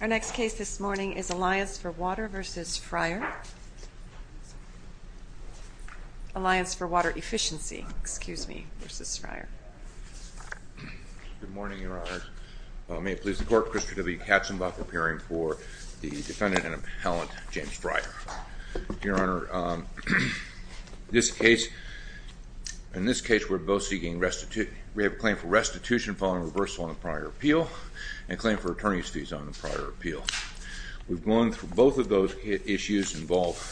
Our next case this morning is Alliance for Water v. Fryer, Alliance for Water Efficiency, excuse me, v. Fryer. Good morning, Your Honors. May it please the Court, Christopher W. Katzenbach appearing for the defendant and appellant James Fryer. Your Honor, this case, in this case we're both seeking restitution, we have a claim for restitution following reversal on the prior appeal and a claim for attorney's fees on the prior appeal. We've gone through both of those issues involved.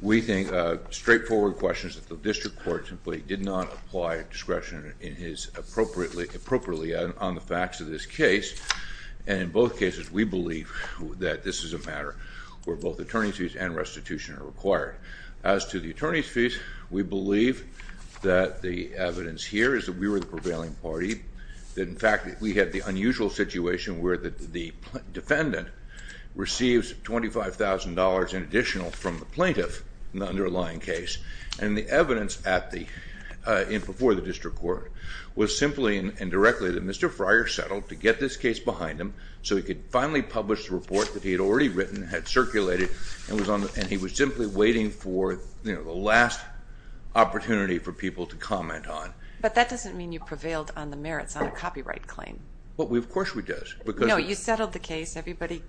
We think straightforward questions that the district court simply did not apply discretion in his appropriately, appropriately on the facts of this case and in both cases we believe that this is a matter where both attorney's fees and restitution are required. As to the attorney's fees, we believe that the evidence here is that we were the prevailing party, that in fact we had the unusual situation where the defendant receives $25,000 in additional from the plaintiff in the underlying case and the evidence before the district court was simply and directly that Mr. Fryer settled to get this case behind him so he could finally publish the report that he had already written, had circulated, and he was simply waiting for the last opportunity for people to comment on. But that doesn't mean you prevailed on the merits on a copyright claim. Well, of course we did. No, you settled the case, everybody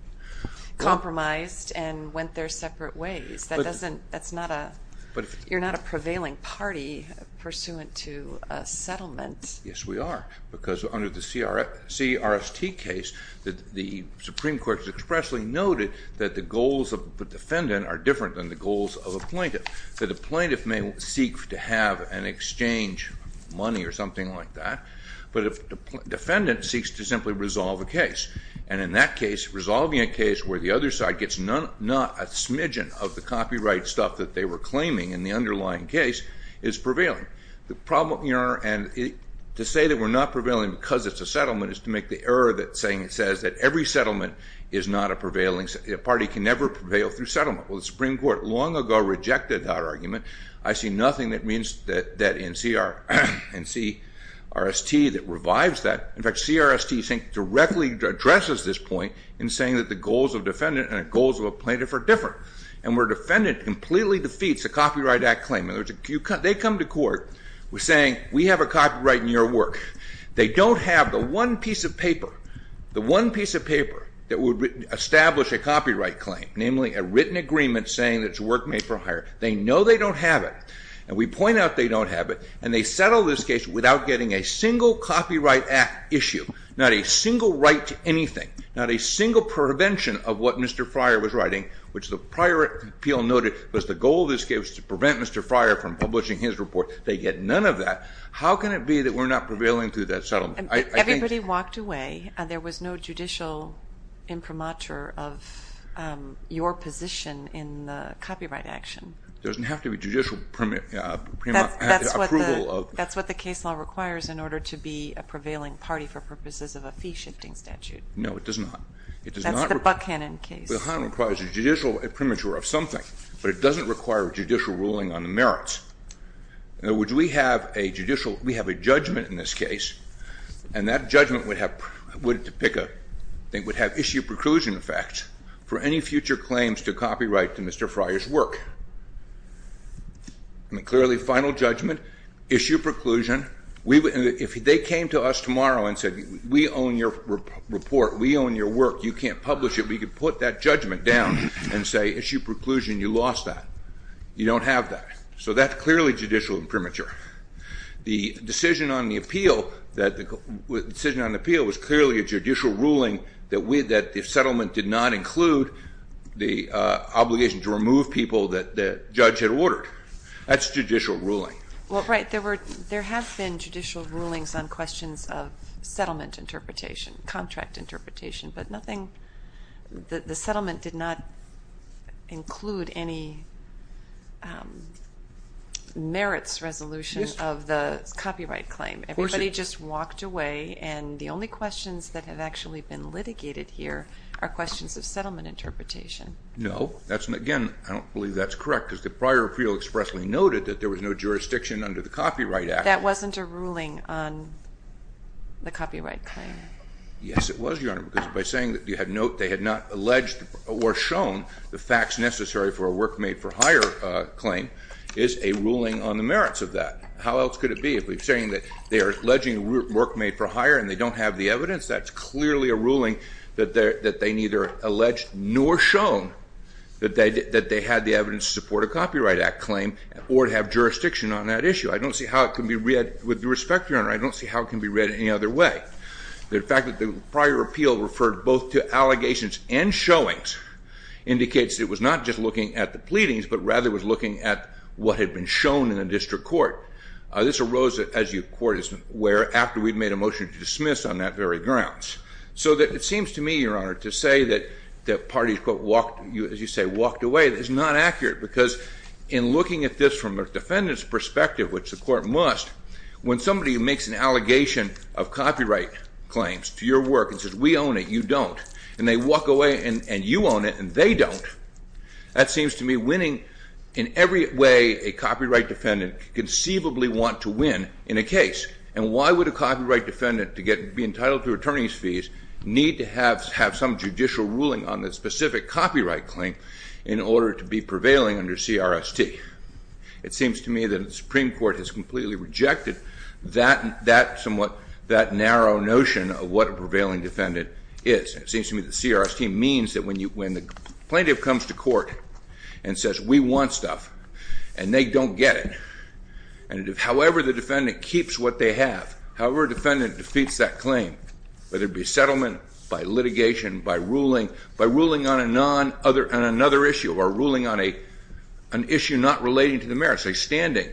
compromised and went their separate ways. That's not a, you're not a prevailing party pursuant to a settlement. Yes, we are because under the CRST case, the Supreme Court has expressly noted that the goals of the defendant are different than the goals of a plaintiff. That a plaintiff may seek to have an exchange of money or something like that, but a defendant seeks to simply resolve a case and in that case, resolving a case where the other side gets not a smidgen of the copyright stuff that they were claiming in the underlying case is prevailing. The problem, Your Honor, and to say that we're not prevailing because it's a settlement is to make the error that saying it says that every settlement is not a prevailing, a party can never prevail through settlement. Well, the Supreme Court long ago rejected that argument. I see nothing that means that in CRST that revives that. In fact, CRST I think directly addresses this point in saying that the goals of defendant and the goals of a plaintiff are different. And where defendant completely defeats a copyright act claim, in other words, they come to court with saying we have a copyright in your work. They don't have the one piece of paper, the one piece of paper that would establish a copyright claim, namely a written agreement saying that it's work made for hire. They know they don't have it and we point out they don't have it and they settle this case without getting a single copyright act issue, not a single right to anything, not a single prevention of what Mr. Fryer was writing, which the prior appeal noted was the goal of this case was to prevent Mr. Fryer from publishing his report. They get none of that. How can it be that we're not prevailing through that settlement? Everybody walked away. There was no judicial imprimatur of your position in the copyright action. It doesn't have to be judicial approval. That's what the case law requires in order to be a prevailing party for purposes of a fee-shifting statute. No, it does not. It does not. That's the Buckhannon case. Buckhannon requires a judicial imprimatur of something, but it doesn't require judicial ruling on the merits. In other words, we have a judgment in this case and that judgment would have issue preclusion effect for any future claims to copyright to Mr. Fryer's work. Clearly final judgment, issue preclusion. If they came to us tomorrow and said we own your report, we own your work, you can't publish it, we could put that judgment down and say issue preclusion, you lost that. You don't have that. So that's clearly judicial imprimatur. The decision on the appeal was clearly a judicial ruling that the settlement did not include the obligation to remove people that the judge had ordered. That's judicial ruling. Well, right. There have been judicial rulings on questions of settlement interpretation, contract interpretation, but nothing, the settlement did not include any merits resolution of the copyright claim. Everybody just walked away and the only questions that have actually been litigated here are questions of settlement interpretation. No. That's, again, I don't believe that's correct because the prior appeal expressly noted that there was no jurisdiction under the Copyright Act. That wasn't a ruling on the copyright claim. Yes, it was, Your Honor, because by saying that they had not alleged or shown the facts necessary for a work made for hire claim is a ruling on the merits of that. How else could it be? If we're saying that they are alleging work made for hire and they don't have the evidence, that's clearly a ruling that they neither alleged nor shown that they had the evidence to support a Copyright Act claim or to have jurisdiction on that issue. I don't see how it can be read, with respect, Your Honor, I don't see how it can be read any other way. The fact that the prior appeal referred both to allegations and showings indicates it was not just looking at the pleadings but rather was looking at what had been shown in the district court. This arose, as you court is aware, after we'd made a motion to dismiss on that very grounds. So it seems to me, Your Honor, to say that the parties, as you say, walked away is not accurate because in looking at this from a defendant's perspective, which the court must, when somebody makes an allegation of copyright claims to your work and says, we own it, you don't, and they walk away and you own it and they don't, that seems to me winning in every way a copyright defendant conceivably want to win in a case. And why would a copyright defendant, to be entitled to attorney's fees, need to have some judicial ruling on the specific copyright claim in order to be prevailing under CRST? It seems to me that the Supreme Court has completely rejected that somewhat, that narrow notion of what a prevailing defendant is. It seems to me that CRST means that when the plaintiff comes to court and says, we want stuff and they don't get it, however the defendant keeps what they have, however a defendant defeats that claim, whether it be settlement, by litigation, by ruling on another issue or ruling on an issue not relating to the merits, say standing,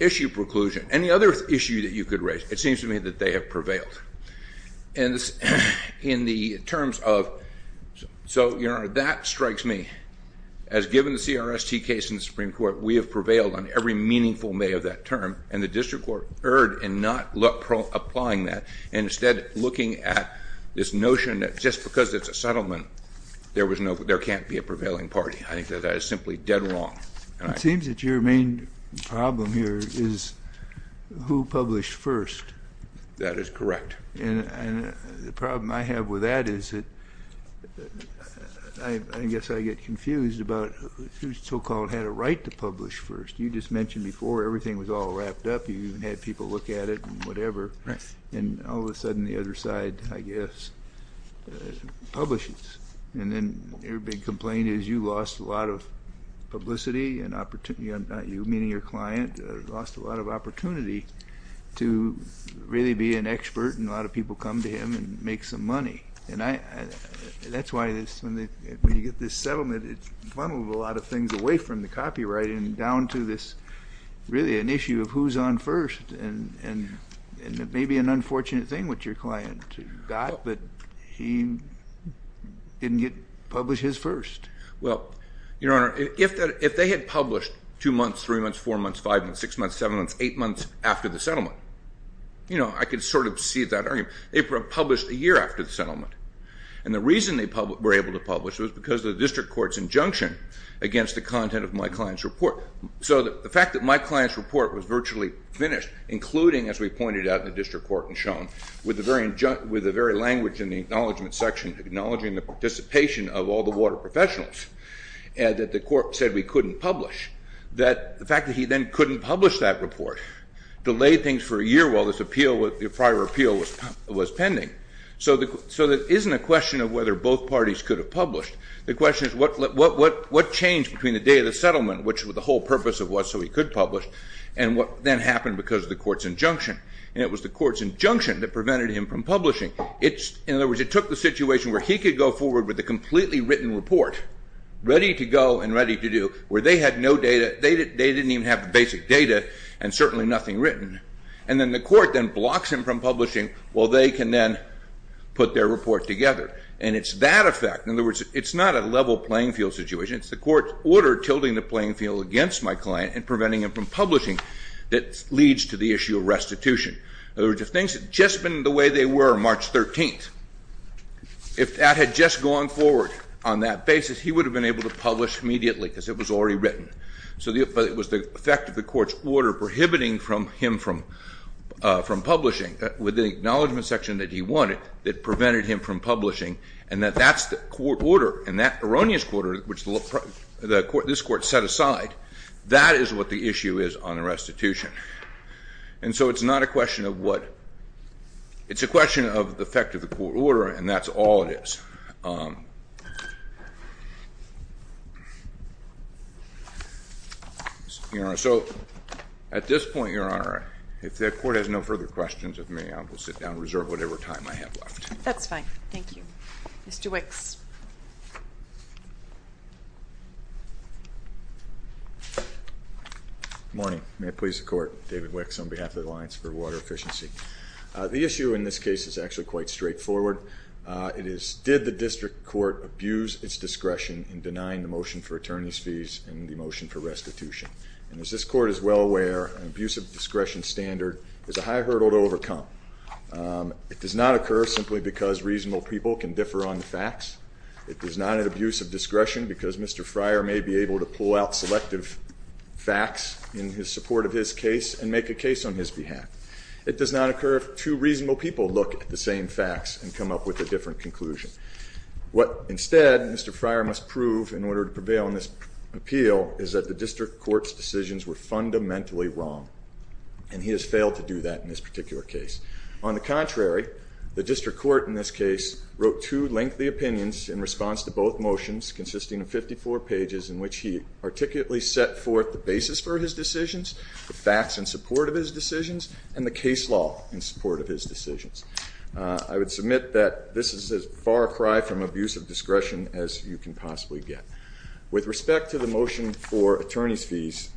issue preclusion, any other issue that you could raise, it seems to me that they have prevailed. And in the terms of, so that strikes me as given the CRST case in the Supreme Court, we have prevailed on every meaningful way of that term and the district court erred in not applying that and instead looking at this notion that just because it's a settlement, there was no, there can't be a prevailing party. I think that that is simply dead wrong. It seems that your main problem here is who published first. That is correct. And the problem I have with that is that I guess I get confused about who so-called had a right to publish first. You just mentioned before everything was all wrapped up, you even had people look at it and whatever, and all of a sudden the other side, I guess, publishes. And then your big complaint is you lost a lot of publicity and opportunity, you meaning your client, lost a lot of opportunity to really be an expert and a lot of people come to him and make some money. And I, that's why this, when you get this settlement, it's one of a lot of things away from the copyright and down to this really an issue of who's on first and it may be an unfortunate thing what your client got, but he didn't publish his first. Well, Your Honor, if they had published two months, three months, four months, five months, six months, seven months, eight months after the settlement, you know, I could sort of see that argument. They published a year after the settlement. And the reason they were able to publish was because of the district court's injunction against the content of my client's report. So the fact that my client's report was virtually finished, including, as we pointed out in the district court and shown, with the very language in the acknowledgment section acknowledging the participation of all the water professionals, and that the court said we couldn't publish, that the fact that he then couldn't publish that report delayed things for a year while this appeal, the prior appeal was pending. The question is what changed between the day of the settlement, which was the whole purpose of what so he could publish, and what then happened because of the court's injunction. And it was the court's injunction that prevented him from publishing. In other words, it took the situation where he could go forward with a completely written report ready to go and ready to do where they had no data. They didn't even have the basic data and certainly nothing written. And then the court then blocks him from publishing while they can then put their report together. And it's that effect. In other words, it's not a level playing field situation, it's the court's order tilting the playing field against my client and preventing him from publishing that leads to the issue of restitution. In other words, if things had just been the way they were March 13th, if that had just gone forward on that basis, he would have been able to publish immediately because it was already written. So it was the effect of the court's order prohibiting him from publishing with the acknowledgment section that he wanted that prevented him from publishing, and that that's the court order. And that erroneous court order, which this court set aside, that is what the issue is on the restitution. And so it's not a question of what. It's a question of the effect of the court order, and that's all it is. So at this point, Your Honor, if the court has no further questions of me, I will sit down and reserve whatever time I have left. That's fine. Thank you. Mr. Wicks. Good morning. May it please the Court, David Wicks on behalf of the Alliance for Water Efficiency. The issue in this case is actually quite straightforward. It is did the district court abuse its discretion in denying the motion for attorney's fees and the motion for restitution? And as this court is well aware, an abuse of discretion standard is a high hurdle to It does not occur simply because reasonable people can differ on the facts. It is not an abuse of discretion because Mr. Fryer may be able to pull out selective facts in his support of his case and make a case on his behalf. It does not occur if two reasonable people look at the same facts and come up with a different conclusion. What instead Mr. Fryer must prove in order to prevail in this appeal is that the district court's decisions were fundamentally wrong, and he has failed to do that in this particular case. On the contrary, the district court in this case wrote two lengthy opinions in response to both motions consisting of 54 pages in which he articulately set forth the basis for his decisions, the facts in support of his decisions, and the case law in support of his decisions. I would submit that this is as far a cry from abuse of discretion as you can possibly get. With respect to the motion for attorney's fees,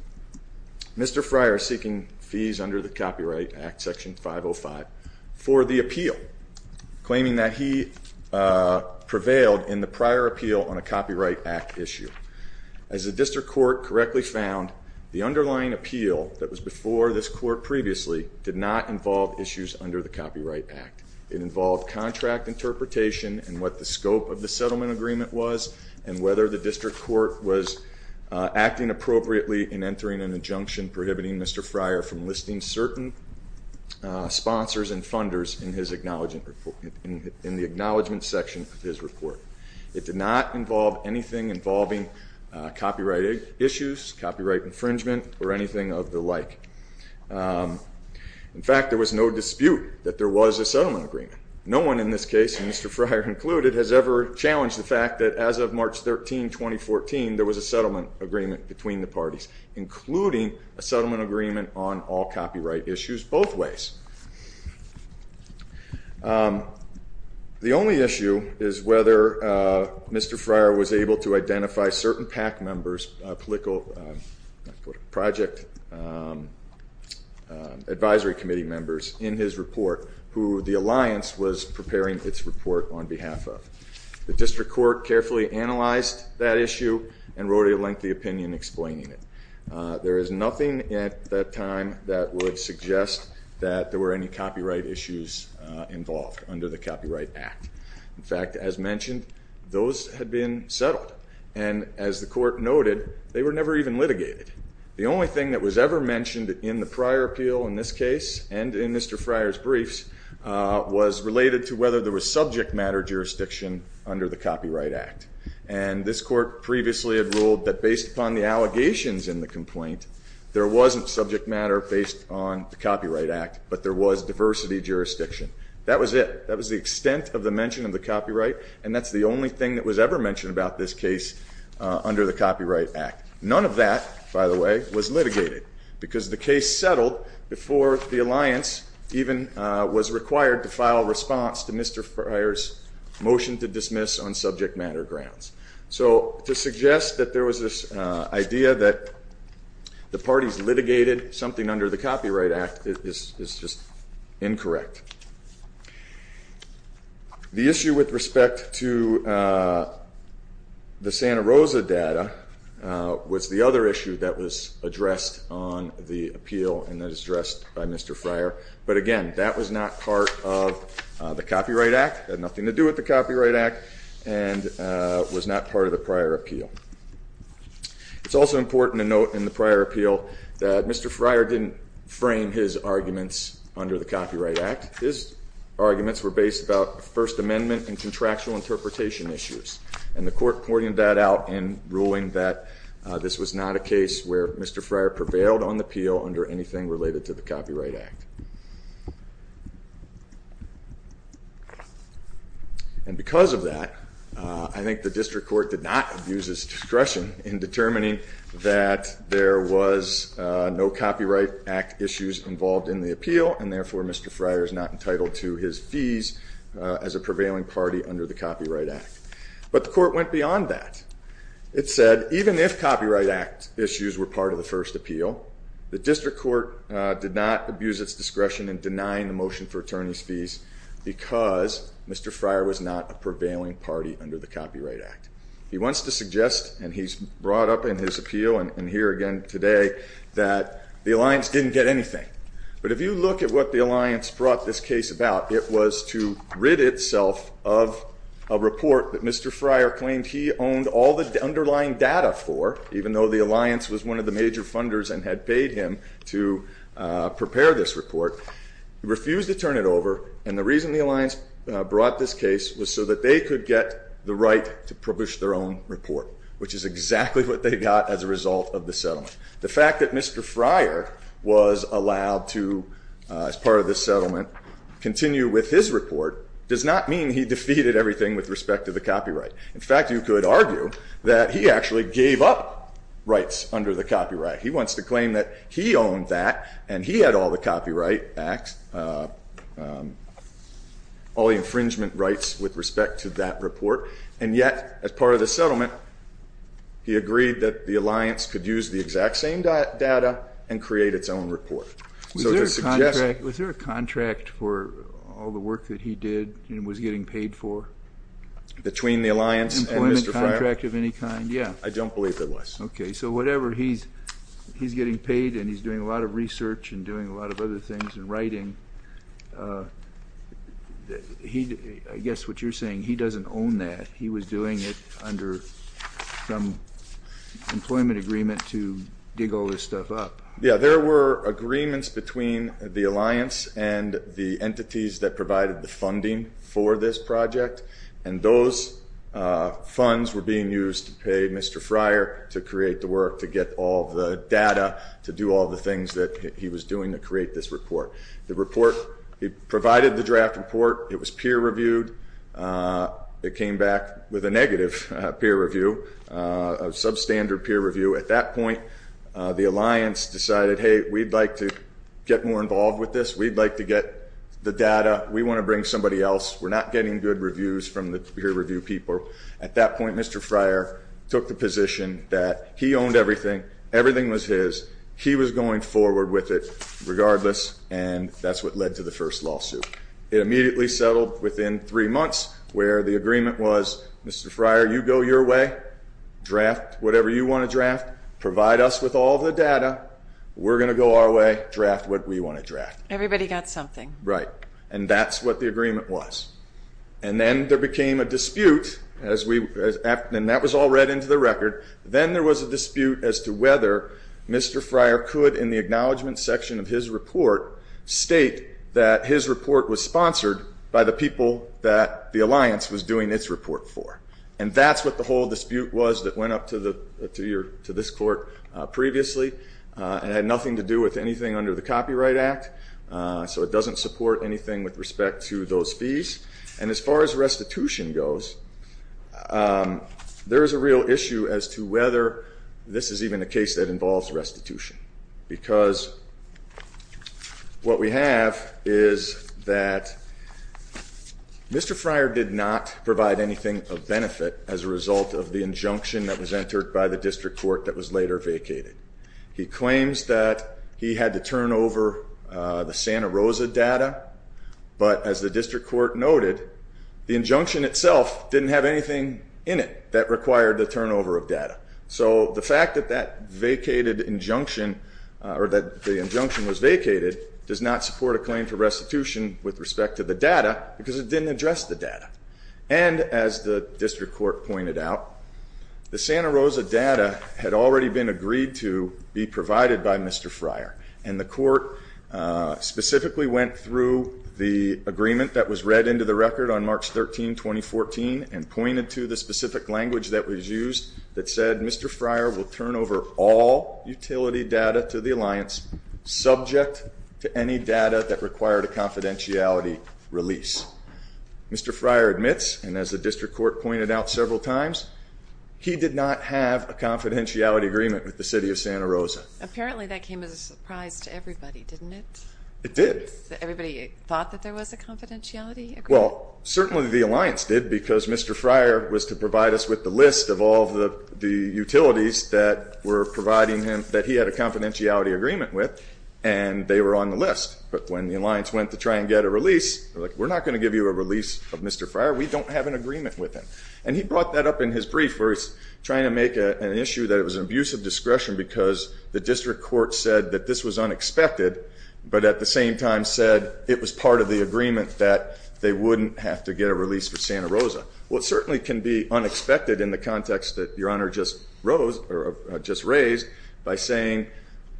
Mr. Fryer seeking fees under the Copyright Act, Section 505, for the appeal, claiming that he prevailed in the prior appeal on a Copyright Act issue. As the district court correctly found, the underlying appeal that was before this court previously did not involve issues under the Copyright Act. It involved contract interpretation and what the scope of the settlement agreement was and whether the district court was acting appropriately in entering an injunction prohibiting Mr. Fryer from listing certain sponsors and funders in the acknowledgment section of his report. It did not involve anything involving copyright issues, copyright infringement, or anything of the like. In fact, there was no dispute that there was a settlement agreement. No one in this case, Mr. Fryer included, has ever challenged the fact that as of March 13, 2014, there was a settlement agreement between the parties, including a settlement agreement on all copyright issues, both ways. The only issue is whether Mr. Fryer was able to identify certain PAC members, project advisory committee members, in his report, who the alliance was preparing its report on behalf of. The district court carefully analyzed that issue and wrote a lengthy opinion explaining it. There is nothing at that time that would suggest that there were any copyright issues involved under the Copyright Act. In fact, as mentioned, those had been settled and as the court noted, they were never even litigated. The only thing that was ever mentioned in the prior appeal in this case and in Mr. Fryer's under the Copyright Act, and this court previously had ruled that based upon the allegations in the complaint, there wasn't subject matter based on the Copyright Act, but there was diversity jurisdiction. That was it. That was the extent of the mention of the copyright, and that's the only thing that was ever mentioned about this case under the Copyright Act. None of that, by the way, was litigated because the case settled before the alliance even was required to file a response to Mr. Fryer's motion to dismiss on subject matter grounds. So to suggest that there was this idea that the parties litigated something under the Copyright Act is just incorrect. The issue with respect to the Santa Rosa data was the other issue that was addressed on that was not part of the Copyright Act, had nothing to do with the Copyright Act, and was not part of the prior appeal. It's also important to note in the prior appeal that Mr. Fryer didn't frame his arguments under the Copyright Act. His arguments were based about First Amendment and contractual interpretation issues, and the court pointed that out in ruling that this was not a case where Mr. Fryer prevailed on the appeal under anything related to the Copyright Act. And because of that, I think the district court did not abuse its discretion in determining that there was no Copyright Act issues involved in the appeal, and therefore Mr. Fryer is not entitled to his fees as a prevailing party under the Copyright Act. But the court went beyond that. It said even if Copyright Act issues were part of the first appeal, the district court did not abuse its discretion in denying the motion for attorney's fees because Mr. Fryer was not a prevailing party under the Copyright Act. He wants to suggest, and he's brought up in his appeal and here again today, that the alliance didn't get anything. But if you look at what the alliance brought this case about, it was to rid itself of a all the underlying data for, even though the alliance was one of the major funders and had paid him to prepare this report, he refused to turn it over. And the reason the alliance brought this case was so that they could get the right to publish their own report, which is exactly what they got as a result of the settlement. The fact that Mr. Fryer was allowed to, as part of this settlement, continue with his report does not mean he defeated everything with respect to the copyright. In fact, you could argue that he actually gave up rights under the copyright. He wants to claim that he owned that and he had all the copyright acts, all the infringement rights with respect to that report. And yet, as part of the settlement, he agreed that the alliance could use the exact same data and create its own report. So to suggest- Was there a contract for all the work that he did and was getting paid for? Between the alliance and Mr. Fryer? Employment contract of any kind? Yeah. I don't believe there was. Okay. So whatever he's getting paid and he's doing a lot of research and doing a lot of other things and writing, I guess what you're saying, he doesn't own that. He was doing it under some employment agreement to dig all this stuff up. Yeah. There were agreements between the alliance and the entities that provided the funding for this project. And those funds were being used to pay Mr. Fryer to create the work, to get all the data, to do all the things that he was doing to create this report. The report, he provided the draft report. It was peer-reviewed. It came back with a negative peer review, a substandard peer review. At that point, the alliance decided, hey, we'd like to get more involved with this. We'd like to get the data. We want to bring somebody else. We're not getting good reviews from the peer review people. At that point, Mr. Fryer took the position that he owned everything. Everything was his. He was going forward with it regardless. And that's what led to the first lawsuit. It immediately settled within three months where the agreement was, Mr. Fryer, you go your way, draft whatever you want to draft, provide us with all the data. We're going to go our way, draft what we want to draft. Everybody got something. Right. And that's what the agreement was. And then there became a dispute, and that was all read into the record. Then there was a dispute as to whether Mr. Fryer could, in the acknowledgment section of his report, state that his report was sponsored by the people that the alliance was doing its report for. And that's what the whole dispute was that went up to this court previously and had nothing to do with anything under the Copyright Act. So it doesn't support anything with respect to those fees. And as far as restitution goes, there is a real issue as to whether this is even a case that involves restitution. Because what we have is that Mr. Fryer did not provide anything of benefit as a result of the injunction that was entered by the district court that was later vacated. He claims that he had to turn over the Santa Rosa data. But as the district court noted, the injunction itself didn't have anything in it that required the turnover of data. So the fact that that vacated injunction, or that the injunction was vacated, does not support a claim for restitution with respect to the data because it didn't address the data. And as the district court pointed out, the Santa Rosa data had already been agreed to be provided by Mr. Fryer. And the court specifically went through the agreement that was read into the record on March 13, 2014, and pointed to the specific language that was used that said Mr. Fryer will turn over all utility data to the alliance subject to any data that required a confidentiality release. Mr. Fryer admits, and as the district court pointed out several times, he did not have a confidentiality agreement with the city of Santa Rosa. Apparently that came as a surprise to everybody, didn't it? It did. Everybody thought that there was a confidentiality agreement? Well, certainly the alliance did because Mr. Fryer was to provide us with the list of all the utilities that were providing him, that he had a confidentiality agreement with, and they were on the list. But when the alliance went to try and get a release, they were like, we're not going to give you a release of Mr. Fryer. We don't have an agreement with him. And he brought that up in his brief where he's trying to make an issue that it was an abuse of discretion because the district court said that this was unexpected, but at the same time said it was part of the agreement that they wouldn't have to get a release for Santa Rosa. Well, it certainly can be unexpected in the context that Your Honor just raised by saying,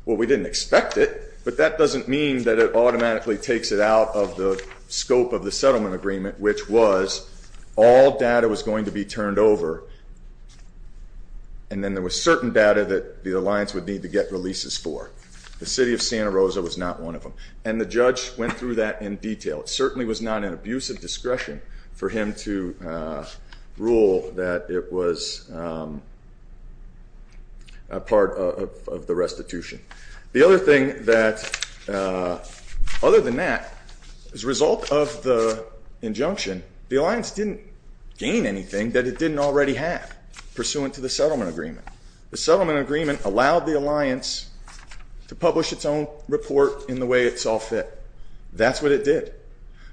well, we didn't expect it, but that doesn't mean that it automatically takes it out of the scope of the settlement agreement, which was all data was going to be turned over and then there was certain data that the alliance would need to get releases for. The city of Santa Rosa was not one of them. And the judge went through that in detail. It certainly was not an abuse of discretion for him to rule that it was a part of the restitution. The other thing that, other than that, as a result of the injunction, the alliance didn't gain anything that it didn't already have pursuant to the settlement agreement. The settlement agreement allowed the alliance to publish its own report in the way it saw fit. That's what it did.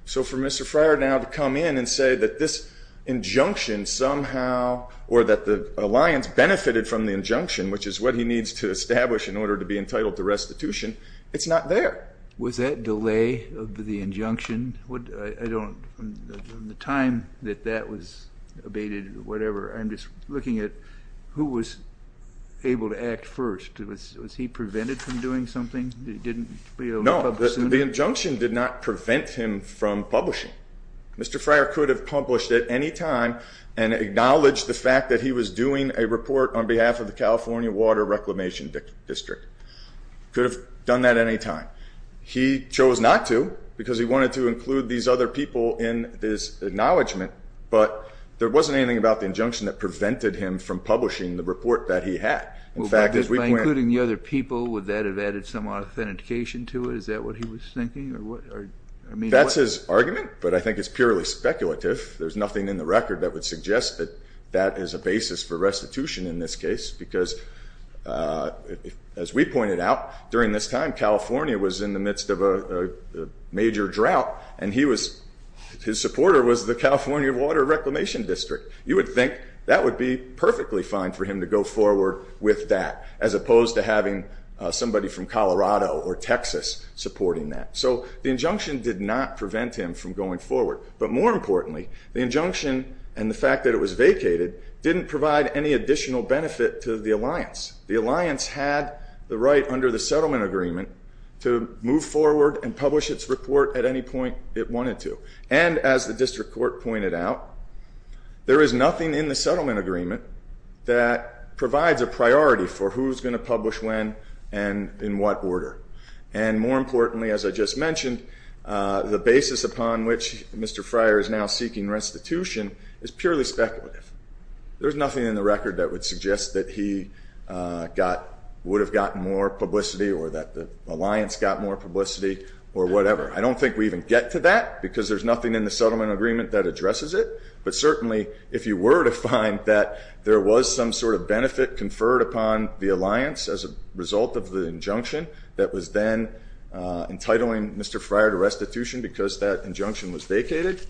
So for Mr. Fryer now to come in and say that this injunction somehow, or that the alliance benefited from the injunction, which is what he needs to establish in order to be entitled to restitution, it's not there. Was that delay of the injunction, the time that that was abated, whatever, I'm just looking at who was able to act first. Was he prevented from doing something that he didn't be able to publish? No, the injunction did not prevent him from publishing. Mr. Fryer could have published at any time and acknowledged the fact that he was doing a report on behalf of the California Water Reclamation District. He could have done that at any time. He chose not to because he wanted to include these other people in his acknowledgment, but there wasn't anything about the injunction that prevented him from publishing the report that he had. In fact, as we went- By including the other people, would that have added some authentication to it? Is that what he was thinking? That's his argument, but I think it's purely speculative. There's nothing in the record that would suggest that that is a basis for restitution in this case because as we pointed out during this time, California was in the midst of a major drought and his supporter was the California Water Reclamation District. You would think that would be perfectly fine for him to go forward with that as opposed to having somebody from Colorado or Texas supporting that. The injunction did not prevent him from going forward, but more importantly, the injunction and the fact that it was vacated didn't provide any additional benefit to the alliance. The alliance had the right under the settlement agreement to move forward and publish its report at any point it wanted to. As the district court pointed out, there is nothing in the settlement agreement that provides a priority for who's going to publish when and in what order. More importantly, as I just mentioned, the basis upon which Mr. Fryer is now seeking restitution is purely speculative. There's nothing in the record that would suggest that he would have gotten more publicity or that the alliance got more publicity or whatever. I don't think we even get to that because there's nothing in the settlement agreement that addresses it, but certainly if you were to find that there was some sort of benefit conferred upon the alliance as a result of the injunction that was then entitling Mr. Fryer to restitution because that injunction was vacated,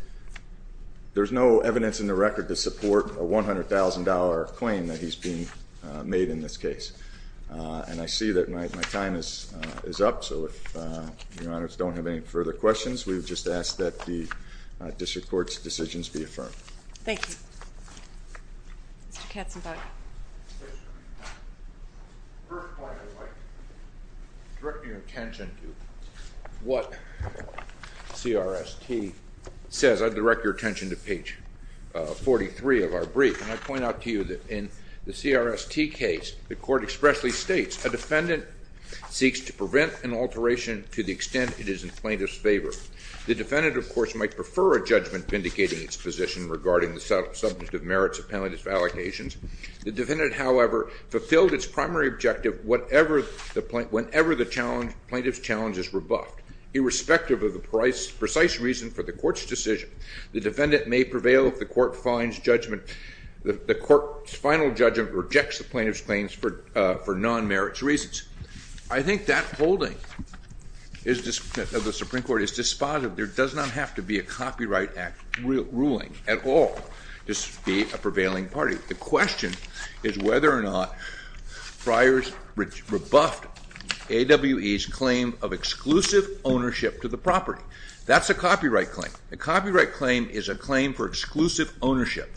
there's no evidence in the record to support a $100,000 claim that he's being made in this case. And I see that my time is up, so if your honors don't have any further questions, we would just ask that the district court's decisions be affirmed. Thank you. Mr. Katzenbach. The first point I'd like to direct your attention to what CRST says, I'd direct your attention to page 43 of our brief, and I point out to you that in the CRST case, the court expressly states a defendant seeks to prevent an alteration to the extent it is in plaintiff's favor. The defendant, of course, might prefer a judgment vindicating its position regarding the subject of merits of penalties for allocations. The defendant, however, fulfilled its primary objective whenever the plaintiff's challenge is rebuffed. Irrespective of the precise reason for the court's decision, the defendant may prevail if the court's final judgment rejects the plaintiff's claims for non-merits reasons. I think that holding of the Supreme Court is dispositive. There does not have to be a Copyright Act ruling at all to be a prevailing party. The question is whether or not Friars rebuffed AWE's claim of exclusive ownership to the property. That's a copyright claim. A copyright claim is a claim for exclusive ownership,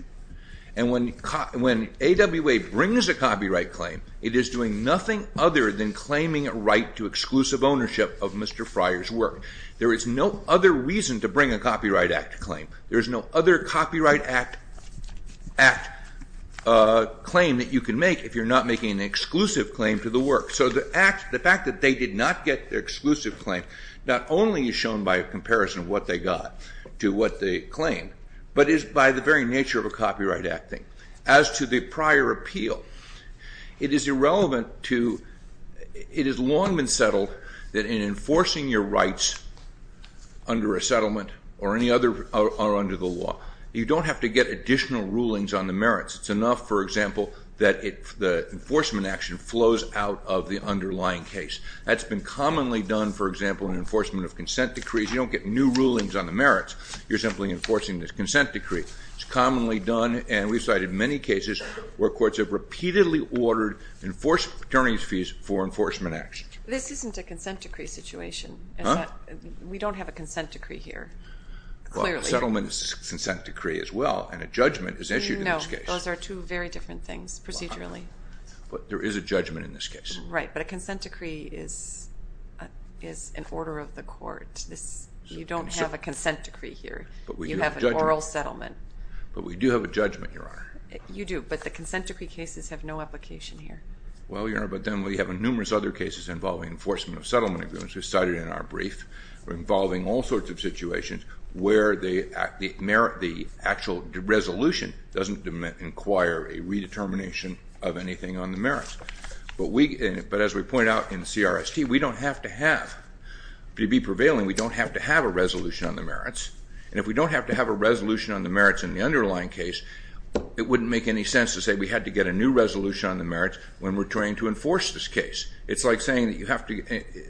and when AWA brings a copyright claim, it is doing nothing other than claiming a right to exclusive ownership of Mr. Friars' work. There is no other reason to bring a Copyright Act claim. There's no other Copyright Act claim that you can make if you're not making an exclusive claim to the work. So the fact that they did not get their exclusive claim not only is shown by a comparison of what they got to what they claimed, but is by the very nature of a Copyright Act thing. As to the prior appeal, it is irrelevant to—it has long been settled that in enforcing your rights under a settlement or any other—or under the law, you don't have to get additional rulings on the merits. It's enough, for example, that the enforcement action flows out of the underlying case. That's been commonly done, for example, in enforcement of consent decrees. You don't get new rulings on the merits. You're simply enforcing this consent decree. It's commonly done, and we've cited many cases where courts have repeatedly ordered enforced attorneys' fees for enforcement action. This isn't a consent decree situation. Huh? We don't have a consent decree here, clearly. Well, a settlement is a consent decree as well, and a judgment is issued in this case. No, those are two very different things, procedurally. But there is a judgment in this case. Right, but a consent decree is an order of the court. You don't have a consent decree here. But we do have a judgment. You have an oral settlement. But we do have a judgment, Your Honor. You do, but the consent decree cases have no application here. Well, Your Honor, but then we have numerous other cases involving enforcement of settlement agreements. We've cited it in our brief. We're involving all sorts of situations where the actual resolution doesn't inquire a redetermination of anything on the merits. But as we pointed out in CRST, we don't have to have, to be prevailing, we don't have to have a resolution on the merits. And if we don't have to have a resolution on the merits in the underlying case, it wouldn't make any sense to say we had to get a new resolution on the merits when we're trying to enforce this case. It's like saying that you have to,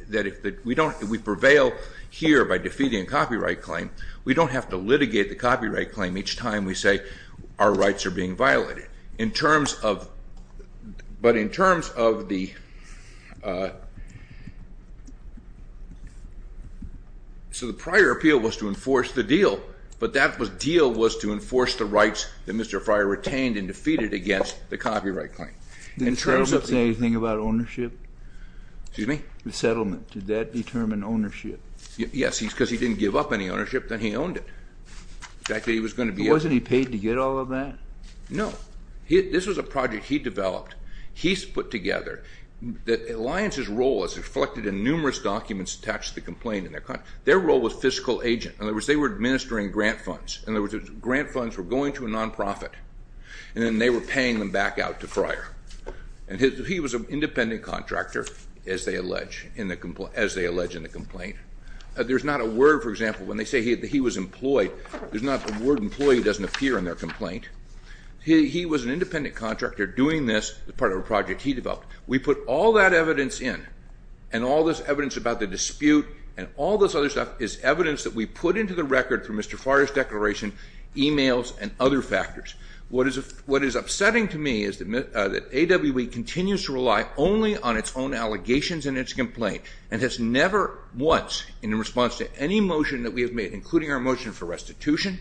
that if we don't, if we prevail here by defeating a copyright claim, we don't have to litigate the copyright claim each time we say our rights are being violated. In terms of, but in terms of the, so the prior appeal was to enforce the deal, but that deal was to enforce the rights that Mr. Fryer retained and defeated against the copyright claim. Didn't the settlement say anything about ownership? Excuse me? The settlement. Did that determine ownership? Yes, because he didn't give up any ownership. Then he owned it. The fact that he was going to be able to. Wasn't he paid to get all of that? No. This was a project he developed. He's put together. The alliance's role is reflected in numerous documents attached to the complaint. Their role was fiscal agent. In other words, they were administering grant funds. In other words, grant funds were going to a nonprofit. And then they were paying them back out to Fryer. And he was an independent contractor, as they allege in the complaint. There's not a word, for example, when they say he was employed, there's not a word employee doesn't appear in their complaint. He was an independent contractor doing this as part of a project he developed. We put all that evidence in and all this evidence about the dispute and all this other stuff is evidence that we put into the record from Mr. Fryer's declaration, emails, and other factors. What is upsetting to me is that AWE continues to rely only on its own allegations in its complaint and has never once, in response to any motion that we have made, including our motion for restitution,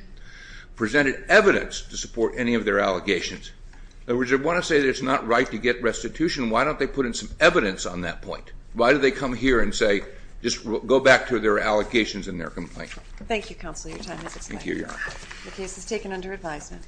presented evidence to support any of their allegations. In other words, I want to say that it's not right to get restitution. Why don't they put in some evidence on that point? Why do they come here and say, just go back to their allegations in their complaint? Thank you, Counselor. Your time has expired. Thank you, Your Honor. The case is taken under advisement.